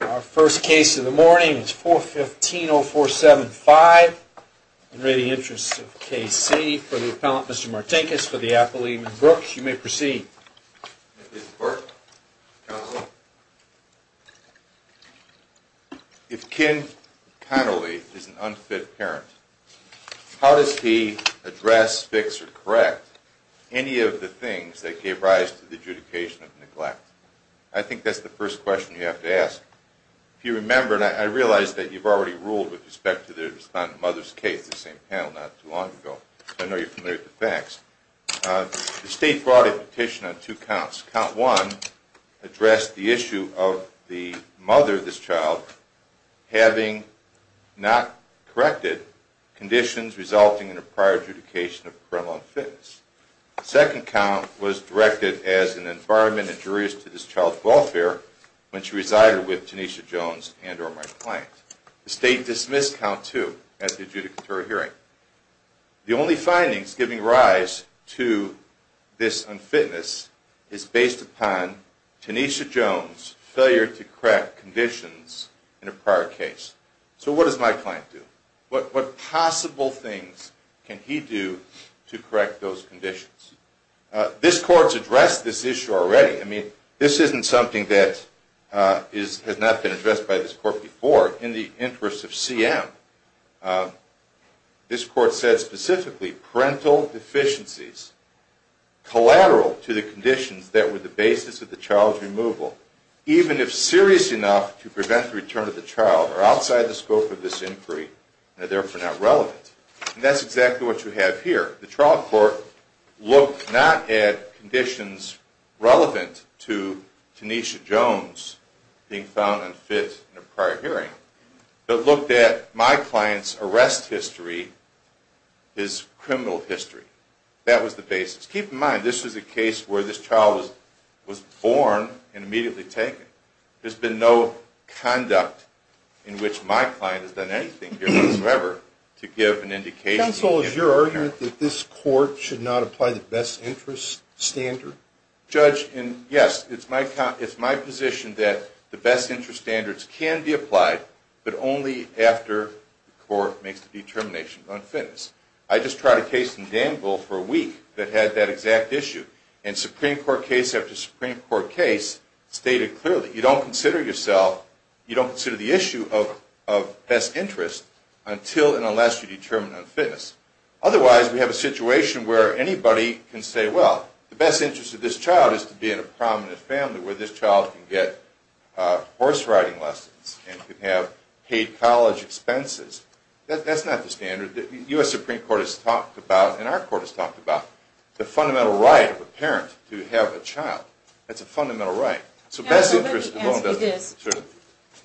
Our first case of the morning is 415-0475. In the interest of K.C. for the appellant, Mr. Martinkus, for the appellee, Ms. Brooks, you may proceed. Ms. Brooks, counsel. If Ken Connolly is an unfit parent, how does he address, fix, or correct any of the things that gave rise to the adjudication of neglect? I think that's the first question you have to ask. If you remember, and I realize that you've already ruled with respect to the respondent mother's case, the same panel not too long ago, so I know you're familiar with the facts. The state brought a petition on two counts. Count one addressed the issue of the mother of this child having not corrected conditions resulting in a prior adjudication of a parental unfitness. The second count was directed as an environment injurious to this child's welfare when she resided with Tanisha Jones and or my client. The state dismissed count two at the adjudicatory hearing. The only findings giving rise to this unfitness is based upon Tanisha Jones' failure to correct conditions in a prior case. So what does my client do? What possible things can he do to correct those conditions? This court's addressed this issue already. I mean, this isn't something that has not been addressed by this court before. In the interest of CM, this court said specifically parental deficiencies collateral to the conditions that were the basis of the child's removal, even if serious enough to prevent the return of the child, are outside the scope of this inquiry and are therefore not relevant. And that's exactly what you have here. The trial court looked not at conditions relevant to Tanisha Jones being found unfit in a prior hearing, but looked at my client's arrest history, his criminal history. That was the basis. Just keep in mind this was a case where this child was born and immediately taken. There's been no conduct in which my client has done anything here whatsoever to give an indication. Counsel, is your argument that this court should not apply the best interest standard? Judge, yes, it's my position that the best interest standards can be applied, but only after the court makes the determination of unfitness. I just tried a case in Danville for a week that had that exact issue, and Supreme Court case after Supreme Court case stated clearly, you don't consider yourself, you don't consider the issue of best interest until and unless you determine unfitness. Otherwise, we have a situation where anybody can say, well, the best interest of this child is to be in a prominent family where this child can get horse riding lessons and can have paid college expenses. That's not the standard. The U.S. Supreme Court has talked about, and our court has talked about, the fundamental right of a parent to have a child. That's a fundamental right. So best interest alone doesn't matter.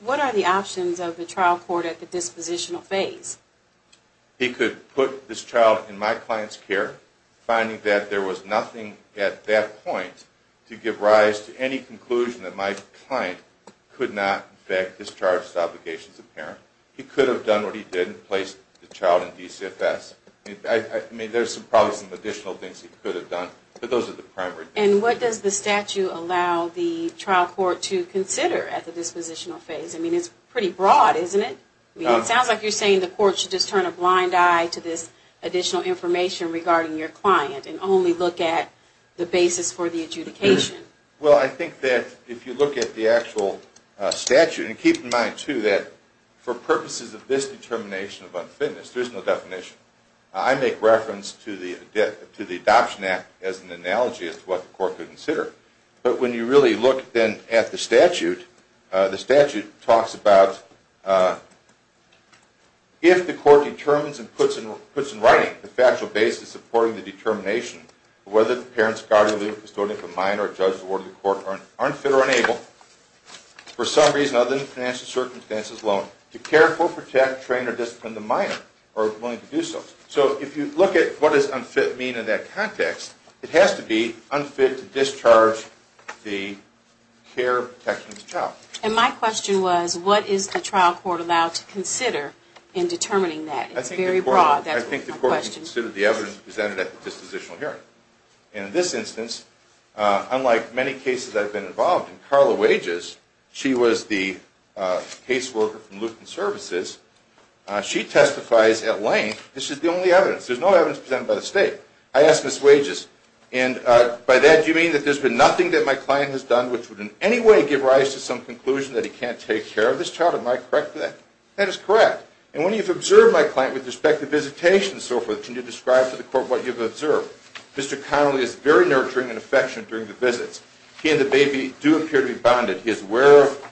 What are the options of the trial court at the dispositional phase? He could put this child in my client's care, finding that there was nothing at that point to give rise to any conclusion He could have done what he did and placed the child in DCFS. I mean, there's probably some additional things he could have done, but those are the primary things. And what does the statute allow the trial court to consider at the dispositional phase? I mean, it's pretty broad, isn't it? It sounds like you're saying the court should just turn a blind eye to this additional information regarding your client and only look at the basis for the adjudication. Well, I think that if you look at the actual statute, and keep in mind, too, that for purposes of this determination of unfitness, there's no definition. I make reference to the Adoption Act as an analogy as to what the court could consider. But when you really look, then, at the statute, the statute talks about if the court determines and puts in writing the factual basis supporting the determination of whether the parents, god or legal custodian of the mind or judge awarded to the court are unfit or unable, for some reason other than financial circumstances alone, to care for, protect, train or discipline the minor or willing to do so. So if you look at what does unfit mean in that context, it has to be unfit to discharge the care, protection of the child. And my question was, what is the trial court allowed to consider in determining that? It's very broad. I think the court should consider the evidence presented at the dispositional hearing. And in this instance, unlike many cases I've been involved in, Carla Wages, she was the caseworker from Luton Services, she testifies at length, this is the only evidence. There's no evidence presented by the state. I asked Ms. Wages, and by that do you mean that there's been nothing that my client has done which would in any way give rise to some conclusion that he can't take care of this child? Am I correct with that? That is correct. And when you've observed my client with respect to visitation and so forth, can you describe to the court what you've observed? Mr. Connolly is very nurturing and affectionate during the visits. He and the baby do appear to be bonded. He is aware of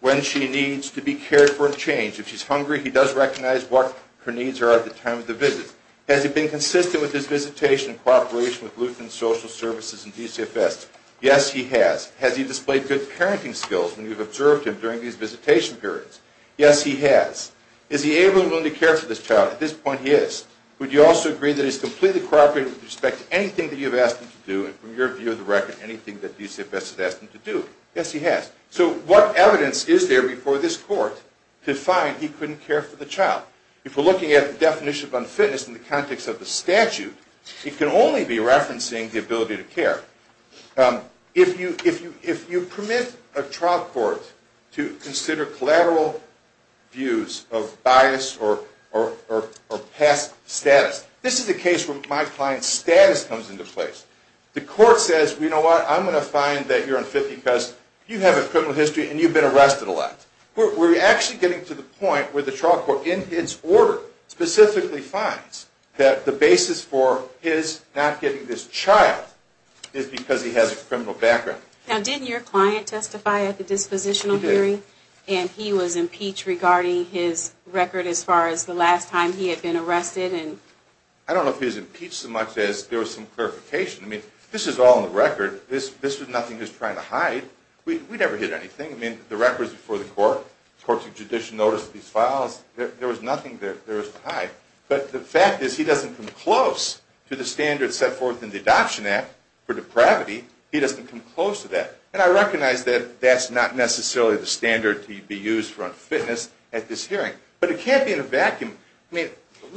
when she needs to be cared for and changed. If she's hungry, he does recognize what her needs are at the time of the visit. Has he been consistent with his visitation in cooperation with Luton Social Services and DCFS? Yes, he has. Has he displayed good parenting skills when you've observed him during these visitation periods? Yes, he has. Is he able and willing to care for this child? At this point, he is. Would you also agree that he's completely cooperative with respect to anything that you've asked him to do and from your view of the record, anything that DCFS has asked him to do? Yes, he has. So what evidence is there before this court to find he couldn't care for the child? If we're looking at the definition of unfitness in the context of the statute, it can only be referencing the ability to care. If you permit a trial court to consider collateral views of bias or past status, this is the case where my client's status comes into play. The court says, you know what, I'm going to find that you're unfit because you have a criminal history and you've been arrested a lot. We're actually getting to the point where the trial court, in its order, specifically finds that the basis for his not getting this child is because he has a criminal background. Now, didn't your client testify at the dispositional hearing? He did. And he was impeached regarding his record as far as the last time he had been arrested? I don't know if he was impeached so much as there was some clarification. I mean, this is all in the record. This was nothing he was trying to hide. We never hid anything. I mean, the record was before the court. Of course, the judicial noticed these files. There was nothing there to hide. But the fact is he doesn't come close to the standards set forth in the Adoption Act for depravity. He doesn't come close to that. And I recognize that that's not necessarily the standard to be used for unfitness at this hearing. But it can't be in a vacuum.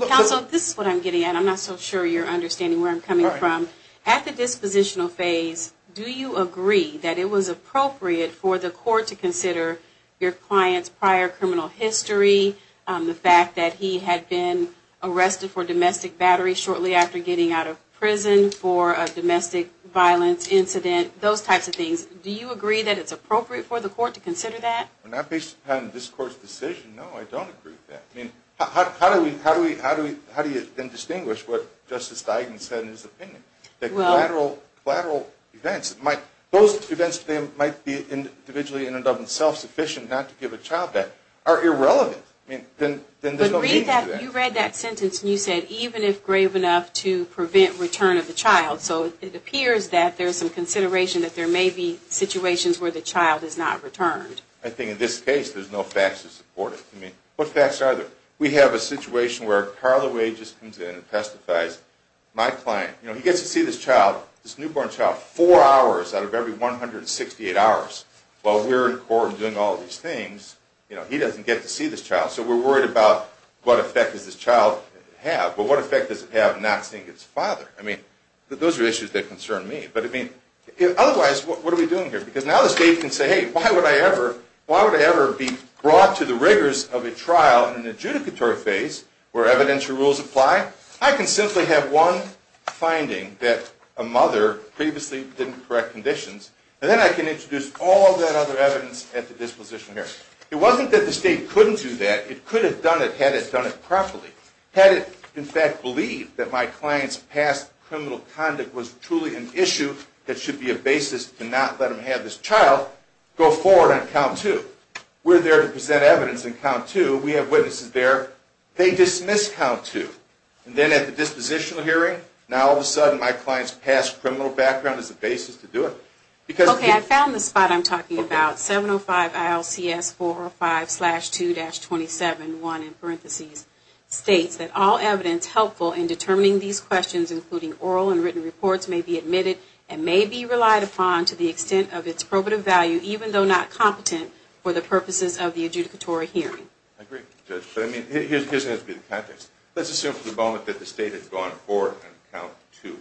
Counsel, this is what I'm getting at. I'm not so sure you're understanding where I'm coming from. At the dispositional phase, do you agree that it was appropriate for the court to consider your client's prior criminal history, the fact that he had been arrested for domestic battery shortly after getting out of prison for a domestic violence incident, those types of things? Do you agree that it's appropriate for the court to consider that? Not based upon this court's decision, no, I don't agree with that. I mean, how do you then distinguish what Justice Duggan said in his opinion? That collateral events, those events that might be individually and of themselves sufficient not to give a child back are irrelevant. I mean, then there's no meaning to that. But you read that sentence and you said, even if grave enough to prevent return of the child. So it appears that there's some consideration that there may be situations where the child is not returned. I think in this case there's no facts to support it. I mean, what facts are there? We have a situation where Carla Wade just comes in and testifies. My client, you know, he gets to see this child, this newborn child, four hours out of every 168 hours. While we're in court and doing all these things, you know, he doesn't get to see this child. So we're worried about what effect does this child have, but what effect does it have not seeing its father? I mean, those are issues that concern me. But I mean, otherwise, what are we doing here? Because now the state can say, hey, why would I ever be brought to the rigors of a trial in an adjudicatory phase where evidentiary rules apply? I can simply have one finding that a mother previously didn't correct conditions, and then I can introduce all that other evidence at the disposition hearing. It wasn't that the state couldn't do that. It could have done it had it done it properly. Had it, in fact, believed that my client's past criminal conduct was truly an issue that should be a basis to not let him have this child, go forward on count two. We're there to present evidence on count two. We have witnesses there. They dismiss count two. And then at the dispositional hearing, now all of a sudden my client's past criminal background is the basis to do it. Okay, I found the spot I'm talking about. 705 ILCS 405-2-27-1, in parentheses, states that all evidence helpful in determining these questions, including oral and written reports, may be admitted and may be relied upon to the extent of its probative value, even though not competent for the purposes of the adjudicatory hearing. I agree, Judge. But I mean, here's the context. Let's assume for the moment that the state has gone forward on count two.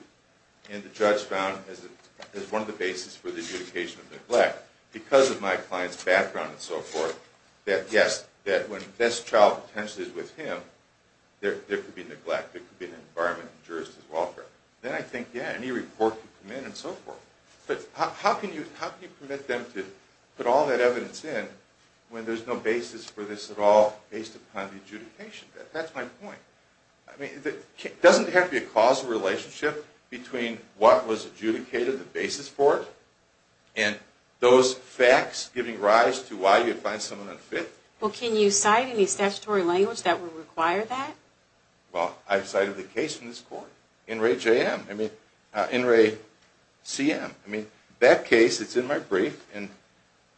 And the judge found as one of the basis for the adjudication of neglect, because of my client's background and so forth, that yes, that when this child potentially is with him, there could be neglect. There could be an environment in which jurist is welfare. Then I think, yeah, any report could come in and so forth. But how can you permit them to put all that evidence in when there's no basis for this at all based upon the adjudication? That's my point. It doesn't have to be a causal relationship between what was adjudicated, the basis for it, and those facts giving rise to why you find someone unfit. Well, can you cite any statutory language that would require that? Well, I've cited the case in this court, NRA-CM. I mean, that case, it's in my brief, and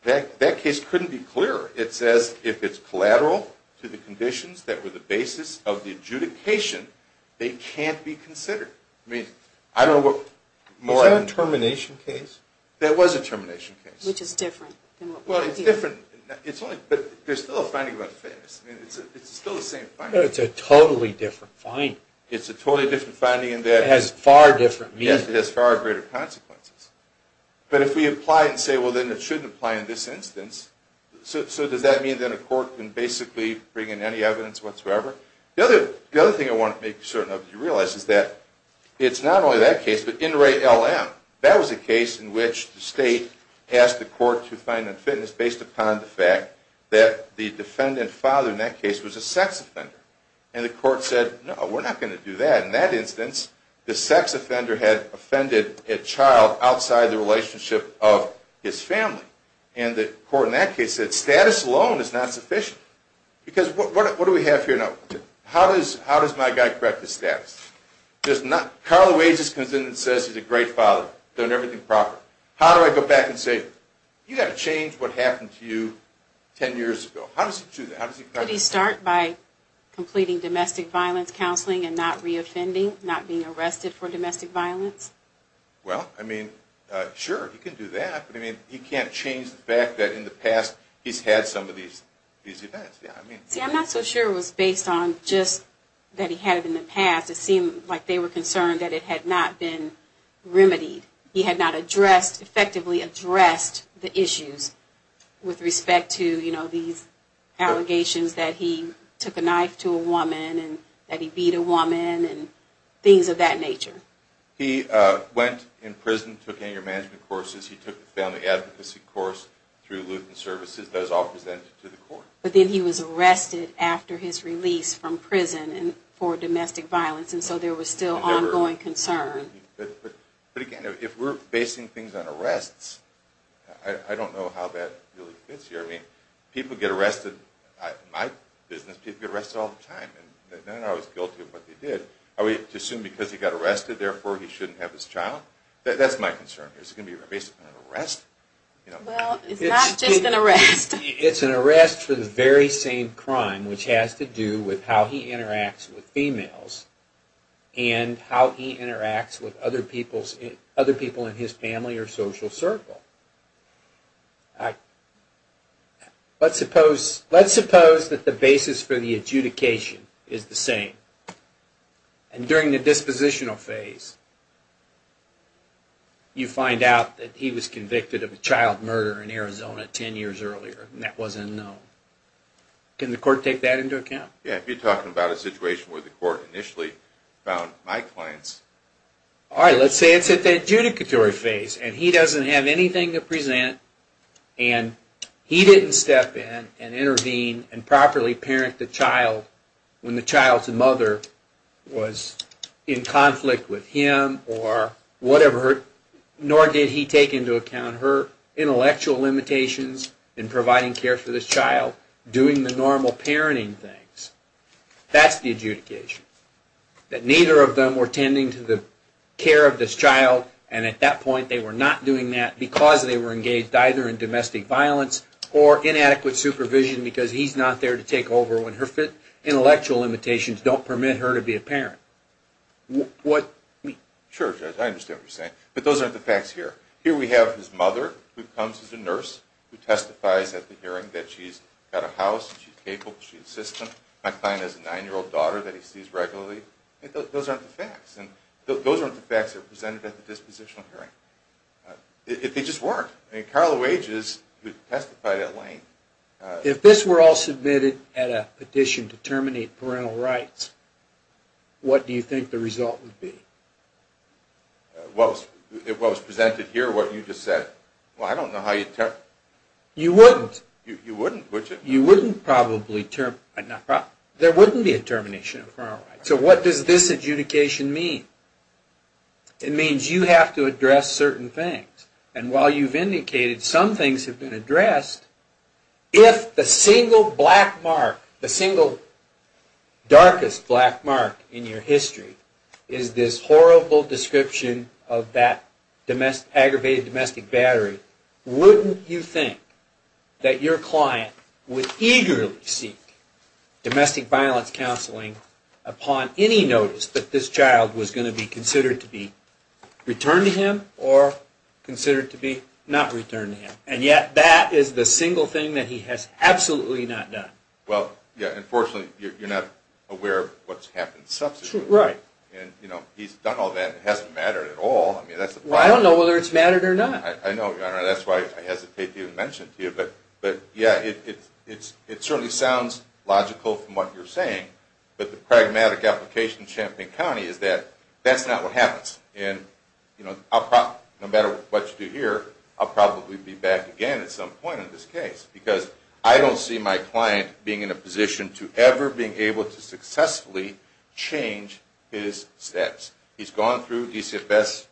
that case couldn't be clearer. It says if it's collateral to the conditions that were the basis of the adjudication, they can't be considered. I mean, I don't know what more I can... Was that a termination case? That was a termination case. Which is different than what we're dealing with. Well, it's different. But there's still a finding about fairness. I mean, it's still the same finding. But it's a totally different finding. It's a totally different finding in that... It has far different meaning. Yes, it has far greater consequences. But if we apply it and say, well, then it shouldn't apply in this instance, so does that mean that a court can basically bring in any evidence whatsoever? The other thing I want to make certain of you realize is that it's not only that case, but NRA-LM. That was a case in which the state asked the court to find unfitness based upon the fact that the defendant father in that case was a sex offender. And the court said, no, we're not going to do that. In that instance, the sex offender had offended a child outside the relationship of his family. And the court in that case said status alone is not sufficient. Because what do we have here now? How does my guy correct his status? Carla Wages comes in and says he's a great father, done everything proper. How do I go back and say, you've got to change what happened to you 10 years ago. How does he do that? Could he start by completing domestic violence counseling and not reoffending, not being arrested for domestic violence? Well, I mean, sure, he can do that. But he can't change the fact that in the past he's had some of these events. See, I'm not so sure it was based on just that he had it in the past. It seemed like they were concerned that it had not been remedied. He had not addressed, effectively addressed, the issues with respect to these allegations that he took a knife to a woman, and that he beat a woman, and things of that nature. He went in prison, took anger management courses. He took the family advocacy course through Lutheran Services. Those all presented to the court. But then he was arrested after his release from prison for domestic violence. And so there was still ongoing concern. But again, if we're basing things on arrests, I don't know how that really fits here. I mean, people get arrested. In my business, people get arrested all the time. I was guilty of what they did. Are we to assume because he got arrested, therefore he shouldn't have his child? That's my concern. Is it going to be based on an arrest? Well, it's not just an arrest. It's an arrest for the very same crime, which has to do with how he interacts with females and how he interacts with other people in his family or social circle. Let's suppose that the basis for the adjudication is the same. And during the dispositional phase, you find out that he was convicted of a child murder in Arizona 10 years earlier, and that was unknown. Can the court take that into account? Yeah, if you're talking about a situation where the court initially found my clients. All right, let's say it's at the adjudicatory phase, and he doesn't have anything to present, and he didn't step in and intervene and properly parent the child when the child's mother was in conflict with him or whatever, nor did he take into account her intellectual limitations in providing care for this child, doing the normal parenting things. That's the adjudication. That neither of them were tending to the care of this child, and at that point they were not doing that because they were engaged either in domestic violence or inadequate supervision because he's not there to take over when her intellectual limitations don't permit her to be a parent. Sure, Judge, I understand what you're saying, but those aren't the facts here. Here we have his mother, who comes as a nurse, who testifies at the hearing that she's got a house, she's capable, she's a system. My client has a nine-year-old daughter that he sees regularly. Those aren't the facts, and those aren't the facts that are presented at the dispositional hearing. They just weren't. I mean, Carla Wages, who testified at Lane. If this were all submitted at a petition to terminate parental rights, what do you think the result would be? What was presented here, what you just said? Well, I don't know how you'd... You wouldn't. You wouldn't, would you? You wouldn't probably... There wouldn't be a termination of parental rights. So what does this adjudication mean? It means you have to address certain things, and while you've indicated some things have been addressed, if the single black mark, the single darkest black mark in your history is this horrible description of that aggravated domestic battery, wouldn't you think that your client would eagerly seek domestic violence counseling upon any notice that this child was going to be considered to be returned to him or considered to be not returned to him, and yet that is the single thing that he has absolutely not done? Well, yeah, unfortunately, you're not aware of what's happened subsequently. Right. And, you know, he's done all that and it hasn't mattered at all. I don't know whether it's mattered or not. I know, Your Honor, that's why I hesitate to even mention it to you. But, yeah, it certainly sounds logical from what you're saying, but the pragmatic application in Champaign County is that that's not what happens. And, you know, no matter what you do here, I'll probably be back again at some point in this case because I don't see my client being in a position to ever being able to successfully change his steps. He's gone through DCFS,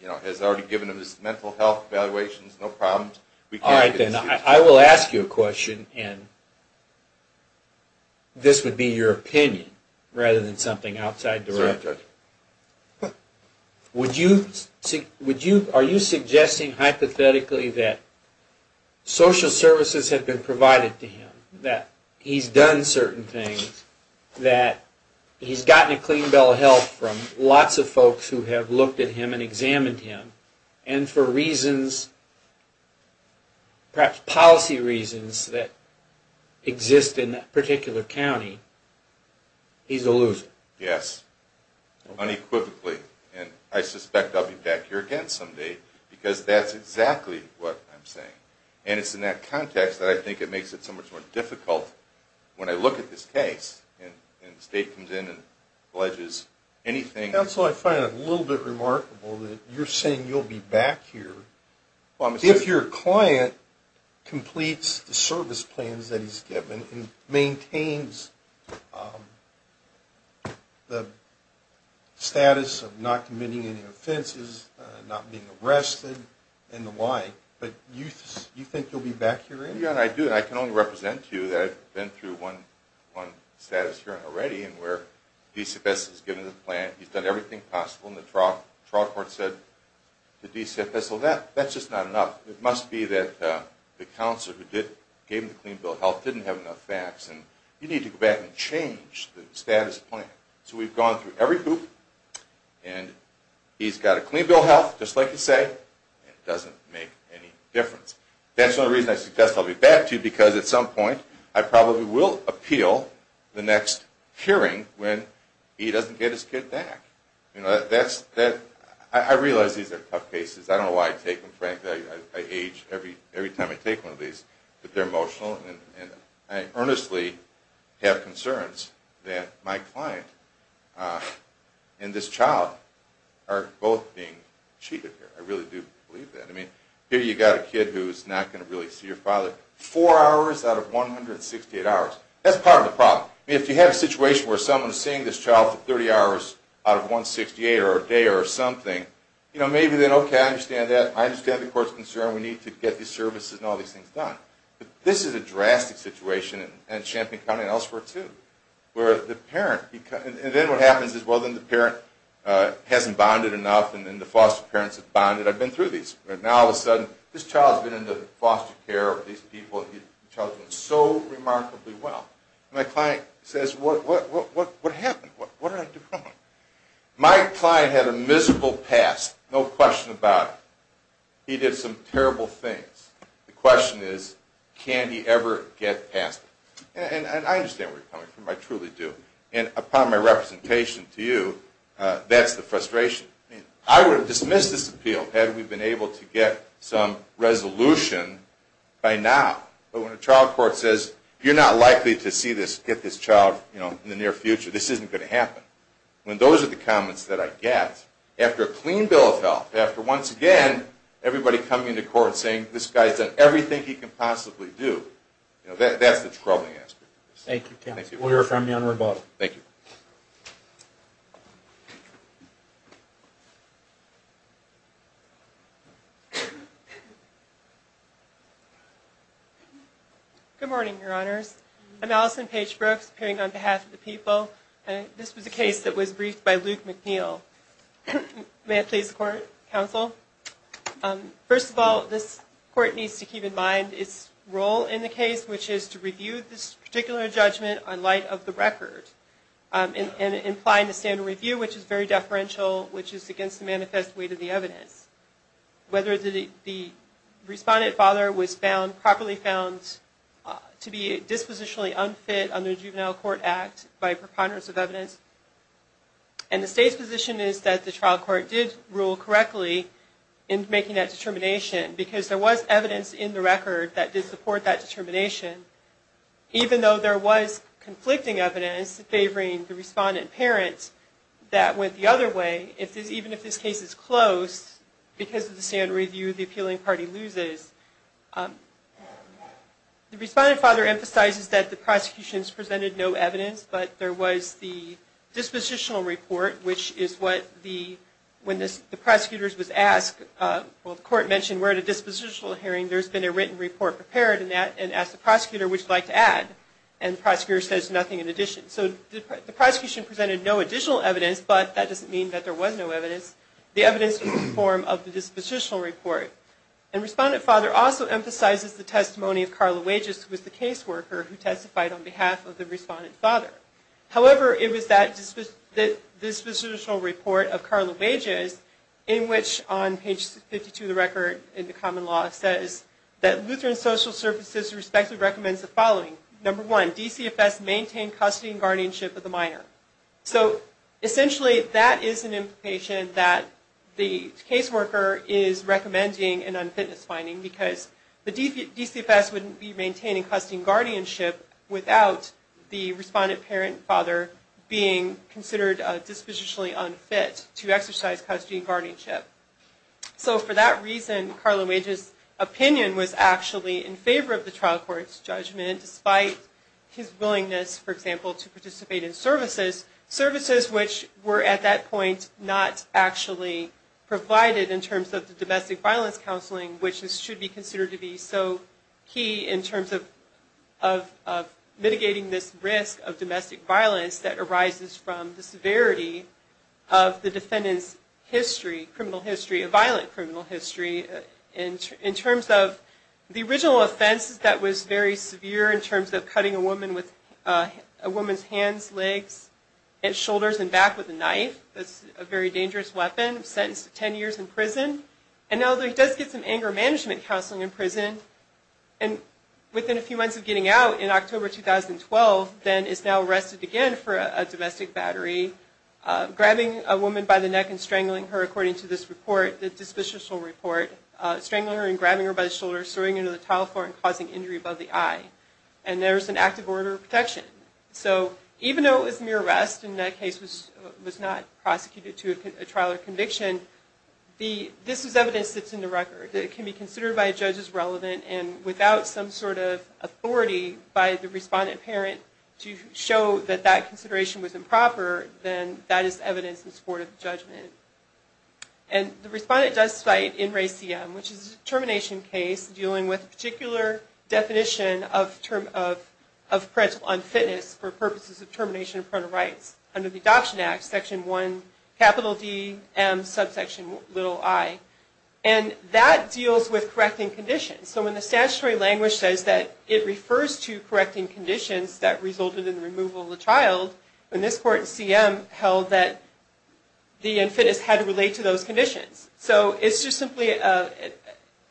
you know, has already given him his mental health evaluations, no problems. All right, then, I will ask you a question, and this would be your opinion rather than something outside the realm. That's right, Judge. Are you suggesting hypothetically that social services had been provided to him, that he's done certain things, that he's gotten a clean bill of health from lots of folks who have looked at him and examined him, and for reasons, perhaps policy reasons, that exist in that particular county, he's a loser? Yes, unequivocally. And I suspect I'll be back here again someday because that's exactly what I'm saying. And it's in that context that I think it makes it so much more difficult when I look at this case and the state comes in and alleges anything. Counsel, I find it a little bit remarkable that you're saying you'll be back here if your client completes the service plans that he's given and maintains the status of not committing any offenses, not being arrested and the like, but you think you'll be back here anyway? Yeah, I do, and I can only represent to you that I've been through one status here already in where DCFS has given the plan, he's done everything possible, and the trial court said to DCFS, well, that's just not enough. It must be that the counselor who gave him the clean bill of health didn't have enough facts, and you need to go back and change the status of the plan. So we've gone through every group, and he's got a clean bill of health, just like you say, and it doesn't make any difference. That's the only reason I suggest I'll be back, too, because at some point I probably will appeal the next hearing when he doesn't get his kid back. I realize these are tough cases. I don't know why I take them, frankly. I age every time I take one of these. But they're emotional, and I earnestly have concerns that my client and this child are both being cheated here. I really do believe that. I mean, here you've got a kid who's not going to really see her father four hours out of 168 hours. That's part of the problem. If you have a situation where someone is seeing this child for 30 hours out of 168 or a day or something, maybe then, okay, I understand that. I understand the court's concern. We need to get these services and all these things done. But this is a drastic situation in Champaign County and elsewhere, too, where the parent becomes – and then what happens is, well, then the parent hasn't bonded enough, and then the foster parents have bonded. I've been through these. Now, all of a sudden, this child's been in the foster care of these people. The child's been so remarkably well. My client says, what happened? What did I do wrong? My client had a miserable past, no question about it. He did some terrible things. The question is, can he ever get past it? And I understand where you're coming from. I truly do. And upon my representation to you, that's the frustration. I would have dismissed this appeal had we been able to get some resolution by now. But when a child court says, you're not likely to get this child in the near future, this isn't going to happen. When those are the comments that I get, after a clean bill of health, after, once again, everybody coming into court and saying, this guy's done everything he can possibly do, that's the troubling aspect. Thank you, Kevin. We'll hear from you on rebuttal. Thank you. Good morning, Your Honors. I'm Allison Paige Brooks, appearing on behalf of the people. This was a case that was briefed by Luke McNeil. May it please the Court, Counsel. First of all, this Court needs to keep in mind its role in the case, which is to review this particular judgment in light of the record and implying the standard review, which is very deferential, which is against the manifest weight of the evidence. Whether the respondent father was found, properly found to be dispositionally unfit under the Juvenile Court Act by preponderance of evidence. And the State's position is that the child court did rule correctly in making that determination because there was evidence in the record that did support that determination. Even though there was conflicting evidence favoring the respondent parent, that went the other way, even if this case is closed, because of the standard review, the appealing party loses. The respondent father emphasizes that the prosecutions presented no evidence, but there was the dispositional report, which is what the, when the prosecutors was asked, well the Court mentioned we're at a dispositional hearing, there's been a written report prepared and asked the prosecutor, would you like to add? And the prosecutor says nothing in addition. So the prosecution presented no additional evidence, but that doesn't mean that there was no evidence. The evidence was in the form of the dispositional report. And respondent father also emphasizes the testimony of Carla Wages, who was the case worker who testified on behalf of the respondent father. However, it was that dispositional report of Carla Wages, in which on page 52 of the record in the common law says that Lutheran Social Services respectively recommends the following. Number one, DCFS maintain custody and guardianship of the minor. So essentially that is an implication that the case worker is recommending an unfitness finding because the DCFS wouldn't be maintaining custody and guardianship without the respondent parent and father being considered dispositionally unfit to exercise custody and guardianship. So for that reason, Carla Wages' opinion was actually in favor of the trial court's judgment, despite his willingness, for example, to participate in services, services which were at that point not actually provided in terms of the domestic violence counseling, which should be considered to be so key in terms of mitigating this risk of domestic violence that arises from the severity of the defendant's history, criminal history, a violent criminal history, in terms of the original offense that was very severe in terms of cutting a woman's hands, legs, and shoulders and back with a knife. That's a very dangerous weapon. Sentenced to 10 years in prison. And now that he does get some anger management counseling in prison, and within a few months of getting out, in October 2012, then is now arrested again for a domestic battery, grabbing a woman by the neck and strangling her, according to this report, the dispositional report, strangling her and grabbing her by the shoulder, throwing her into the tile floor and causing injury above the eye. And there is an active order of protection. So even though it was mere arrest and that case was not prosecuted to a trial or conviction, this is evidence that's in the record, that it can be considered by judges relevant and without some sort of authority by the respondent parent to show that that consideration was improper, then that is evidence in support of the judgment. And the respondent does cite NRACM, which is a termination case dealing with a particular definition of parental unfitness for purposes of termination of parental rights. Under the Adoption Act, Section 1, capital D, M, subsection little i. And that deals with correcting conditions. So when the statutory language says that it refers to correcting conditions that resulted in the removal of the child, in this court, CM held that the unfitness had to relate to those conditions. So it's just simply an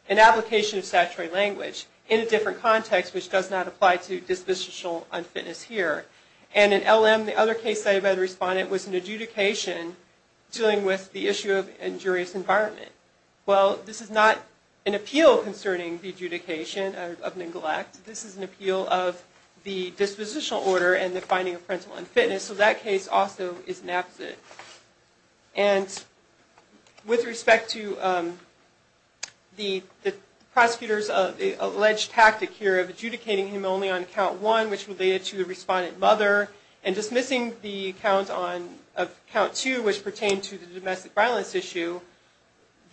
application of statutory language in a different context, which does not apply to dispositional unfitness here. And in LM, the other case cited by the respondent was an adjudication dealing with the issue of injurious environment. Well, this is not an appeal concerning the adjudication of neglect. This is an appeal of the dispositional order and the finding of parental unfitness. So that case also is an absent. And with respect to the prosecutor's alleged tactic here of adjudicating him only on account one, which related to the respondent mother, and dismissing the account two, which pertained to the domestic violence issue,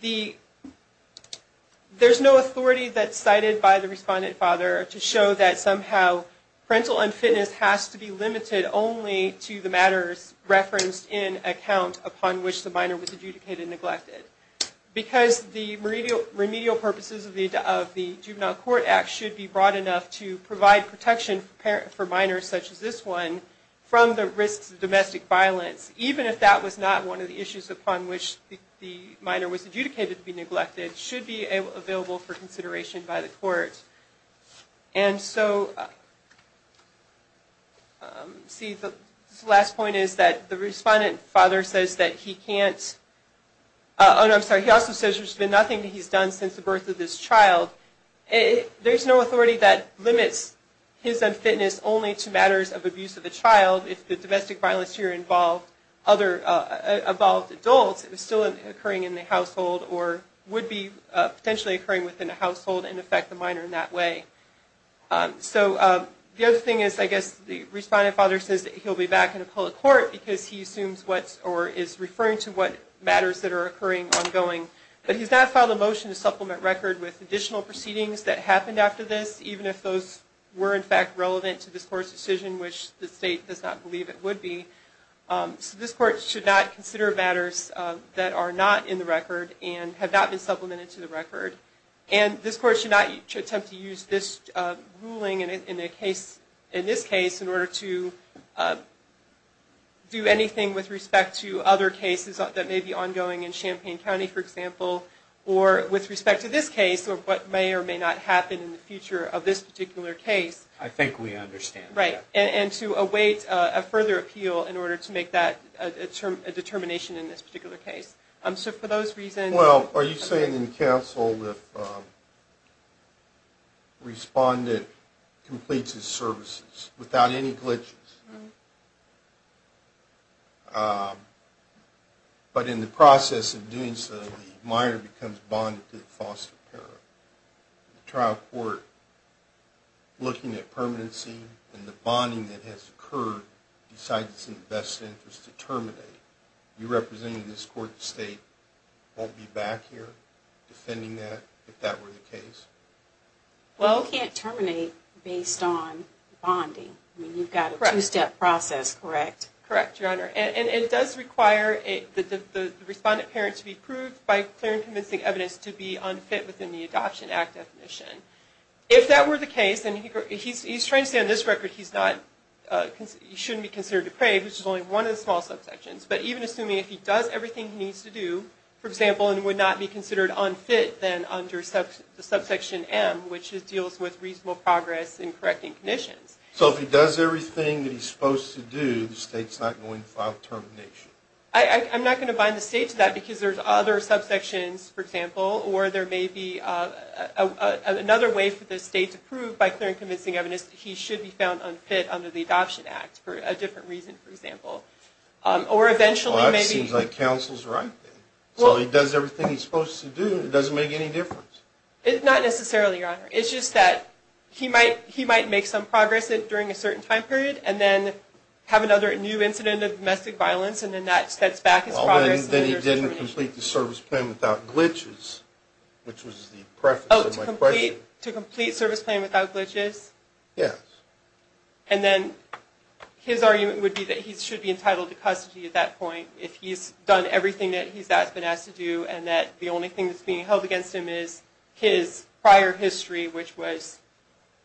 there's no authority that's cited by the respondent father to show that somehow parental unfitness has to be limited only to the matters referenced in account upon which the minor was adjudicated and neglected. Because the remedial purposes of the Juvenile Court Act should be broad enough to provide protection for minors, such as this one, from the risks of domestic violence, even if that was not one of the issues upon which the minor was adjudicated to be neglected, should be available for consideration by the court. And so, let's see, the last point is that the respondent father says that he can't, oh no, I'm sorry, he also says there's been nothing that he's done since the birth of this child. There's no authority that limits his unfitness only to matters of abuse of the child. If the domestic violence here involved adults, it was still occurring in the household, or would be potentially occurring within a household and affect the minor in that way. So the other thing is, I guess, the respondent father says that he'll be back in a public court because he assumes or is referring to what matters that are occurring ongoing. But he's not filed a motion to supplement record with additional proceedings that happened after this, even if those were in fact relevant to this court's decision, which the state does not believe it would be. So this court should not consider matters that are not in the record and have not been supplemented to the record. And this court should not attempt to use this ruling in this case in order to do anything with respect to other cases that may be ongoing in Champaign County, for example, or with respect to this case, or what may or may not happen in the future of this particular case. I think we understand. Right. And to await a further appeal in order to make that a determination in this particular case. So for those reasons... Well, are you saying in counsel that the respondent completes his services without any glitches, but in the process of doing so, the minor becomes bonded to the foster parent? The trial court, looking at permanency and the bonding that has occurred, decides it's in the best interest to terminate. You representing this court, the state, won't be back here defending that, if that were the case? Well, you can't terminate based on bonding. I mean, you've got a two-step process, correct? Correct, Your Honor. And it does require the respondent parent to be proved by clear and convincing evidence to be unfit within the Adoption Act definition. If that were the case, and he's trying to say on this record he shouldn't be considered depraved, which is only one of the small subsections, but even assuming if he does everything he needs to do, for example, and would not be considered unfit then under subsection M, which deals with reasonable progress in correcting conditions. So if he does everything that he's supposed to do, the state's not going to file termination? I'm not going to bind the state to that because there's other subsections, for example, or there may be another way for the state to prove by clear and convincing evidence that he should be found unfit under the Adoption Act for a different reason, for example. Well, that seems like counsel's right then. So if he does everything he's supposed to do, it doesn't make any difference? Not necessarily, Your Honor. It's just that he might make some progress during a certain time period and then have another new incident of domestic violence, and then that sets back his progress. Then he didn't complete the service plan without glitches, which was the preface of my question. Oh, to complete service plan without glitches? Yes. And then his argument would be that he should be entitled to custody at that point if he's done everything that he's been asked to do and that the only thing that's being held against him is his prior history, which was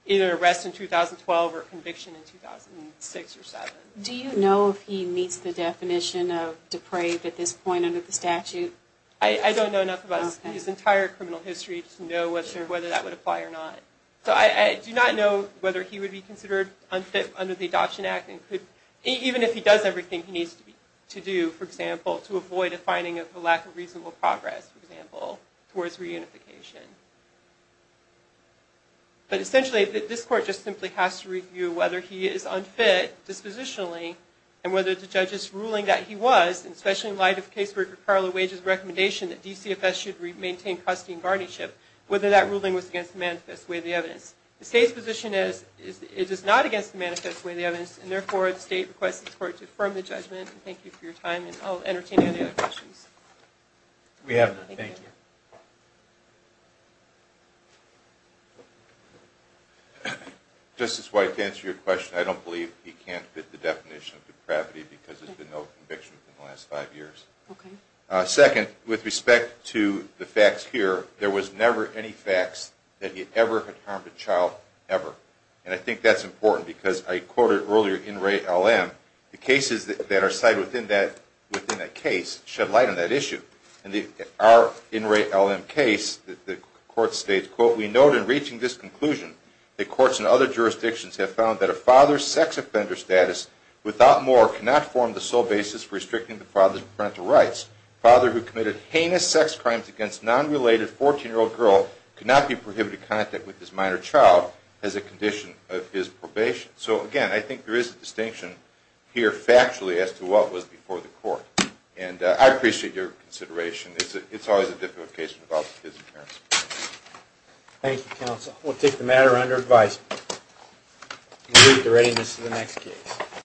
either arrest in 2012 or conviction in 2006 or 2007. Do you know if he meets the definition of depraved at this point under the statute? I don't know enough about his entire criminal history to know whether that would apply or not. So I do not know whether he would be considered unfit under the Adoption Act. Even if he does everything he needs to do, for example, to avoid a finding of a lack of reasonable progress, for example, towards reunification. But essentially this Court just simply has to review whether he is unfit dispositionally and whether the judge's ruling that he was, and especially in light of Caseworker Carla Wage's recommendation that DCFS should maintain custody and guardianship, whether that ruling was against the manifest way of the evidence. The State's position is it is not against the manifest way of the evidence, and therefore the State requests the Court to affirm the judgment. Thank you for your time, and I'll entertain any other questions. We have none. Thank you. Justice White, to answer your question, I don't believe he can't fit the definition of depravity because there's been no conviction in the last five years. Okay. Second, with respect to the facts here, there was never any facts that he ever had harmed a child, ever. And I think that's important because I quoted earlier in Ray L. M., the cases that are cited within that case shed light on that issue. In our in Ray L. M. case, the Court states, quote, We note in reaching this conclusion that courts in other jurisdictions have found that a father's sex offender status, without more, cannot form the sole basis for restricting the father's parental rights. A father who committed heinous sex crimes against a non-related 14-year-old girl So, again, I think there is a distinction here, factually, as to what was before the Court. And I appreciate your consideration. It's always a difficult case without his appearance. Thank you, Counsel. We'll take the matter under advice. We'll leave the readiness of the next case.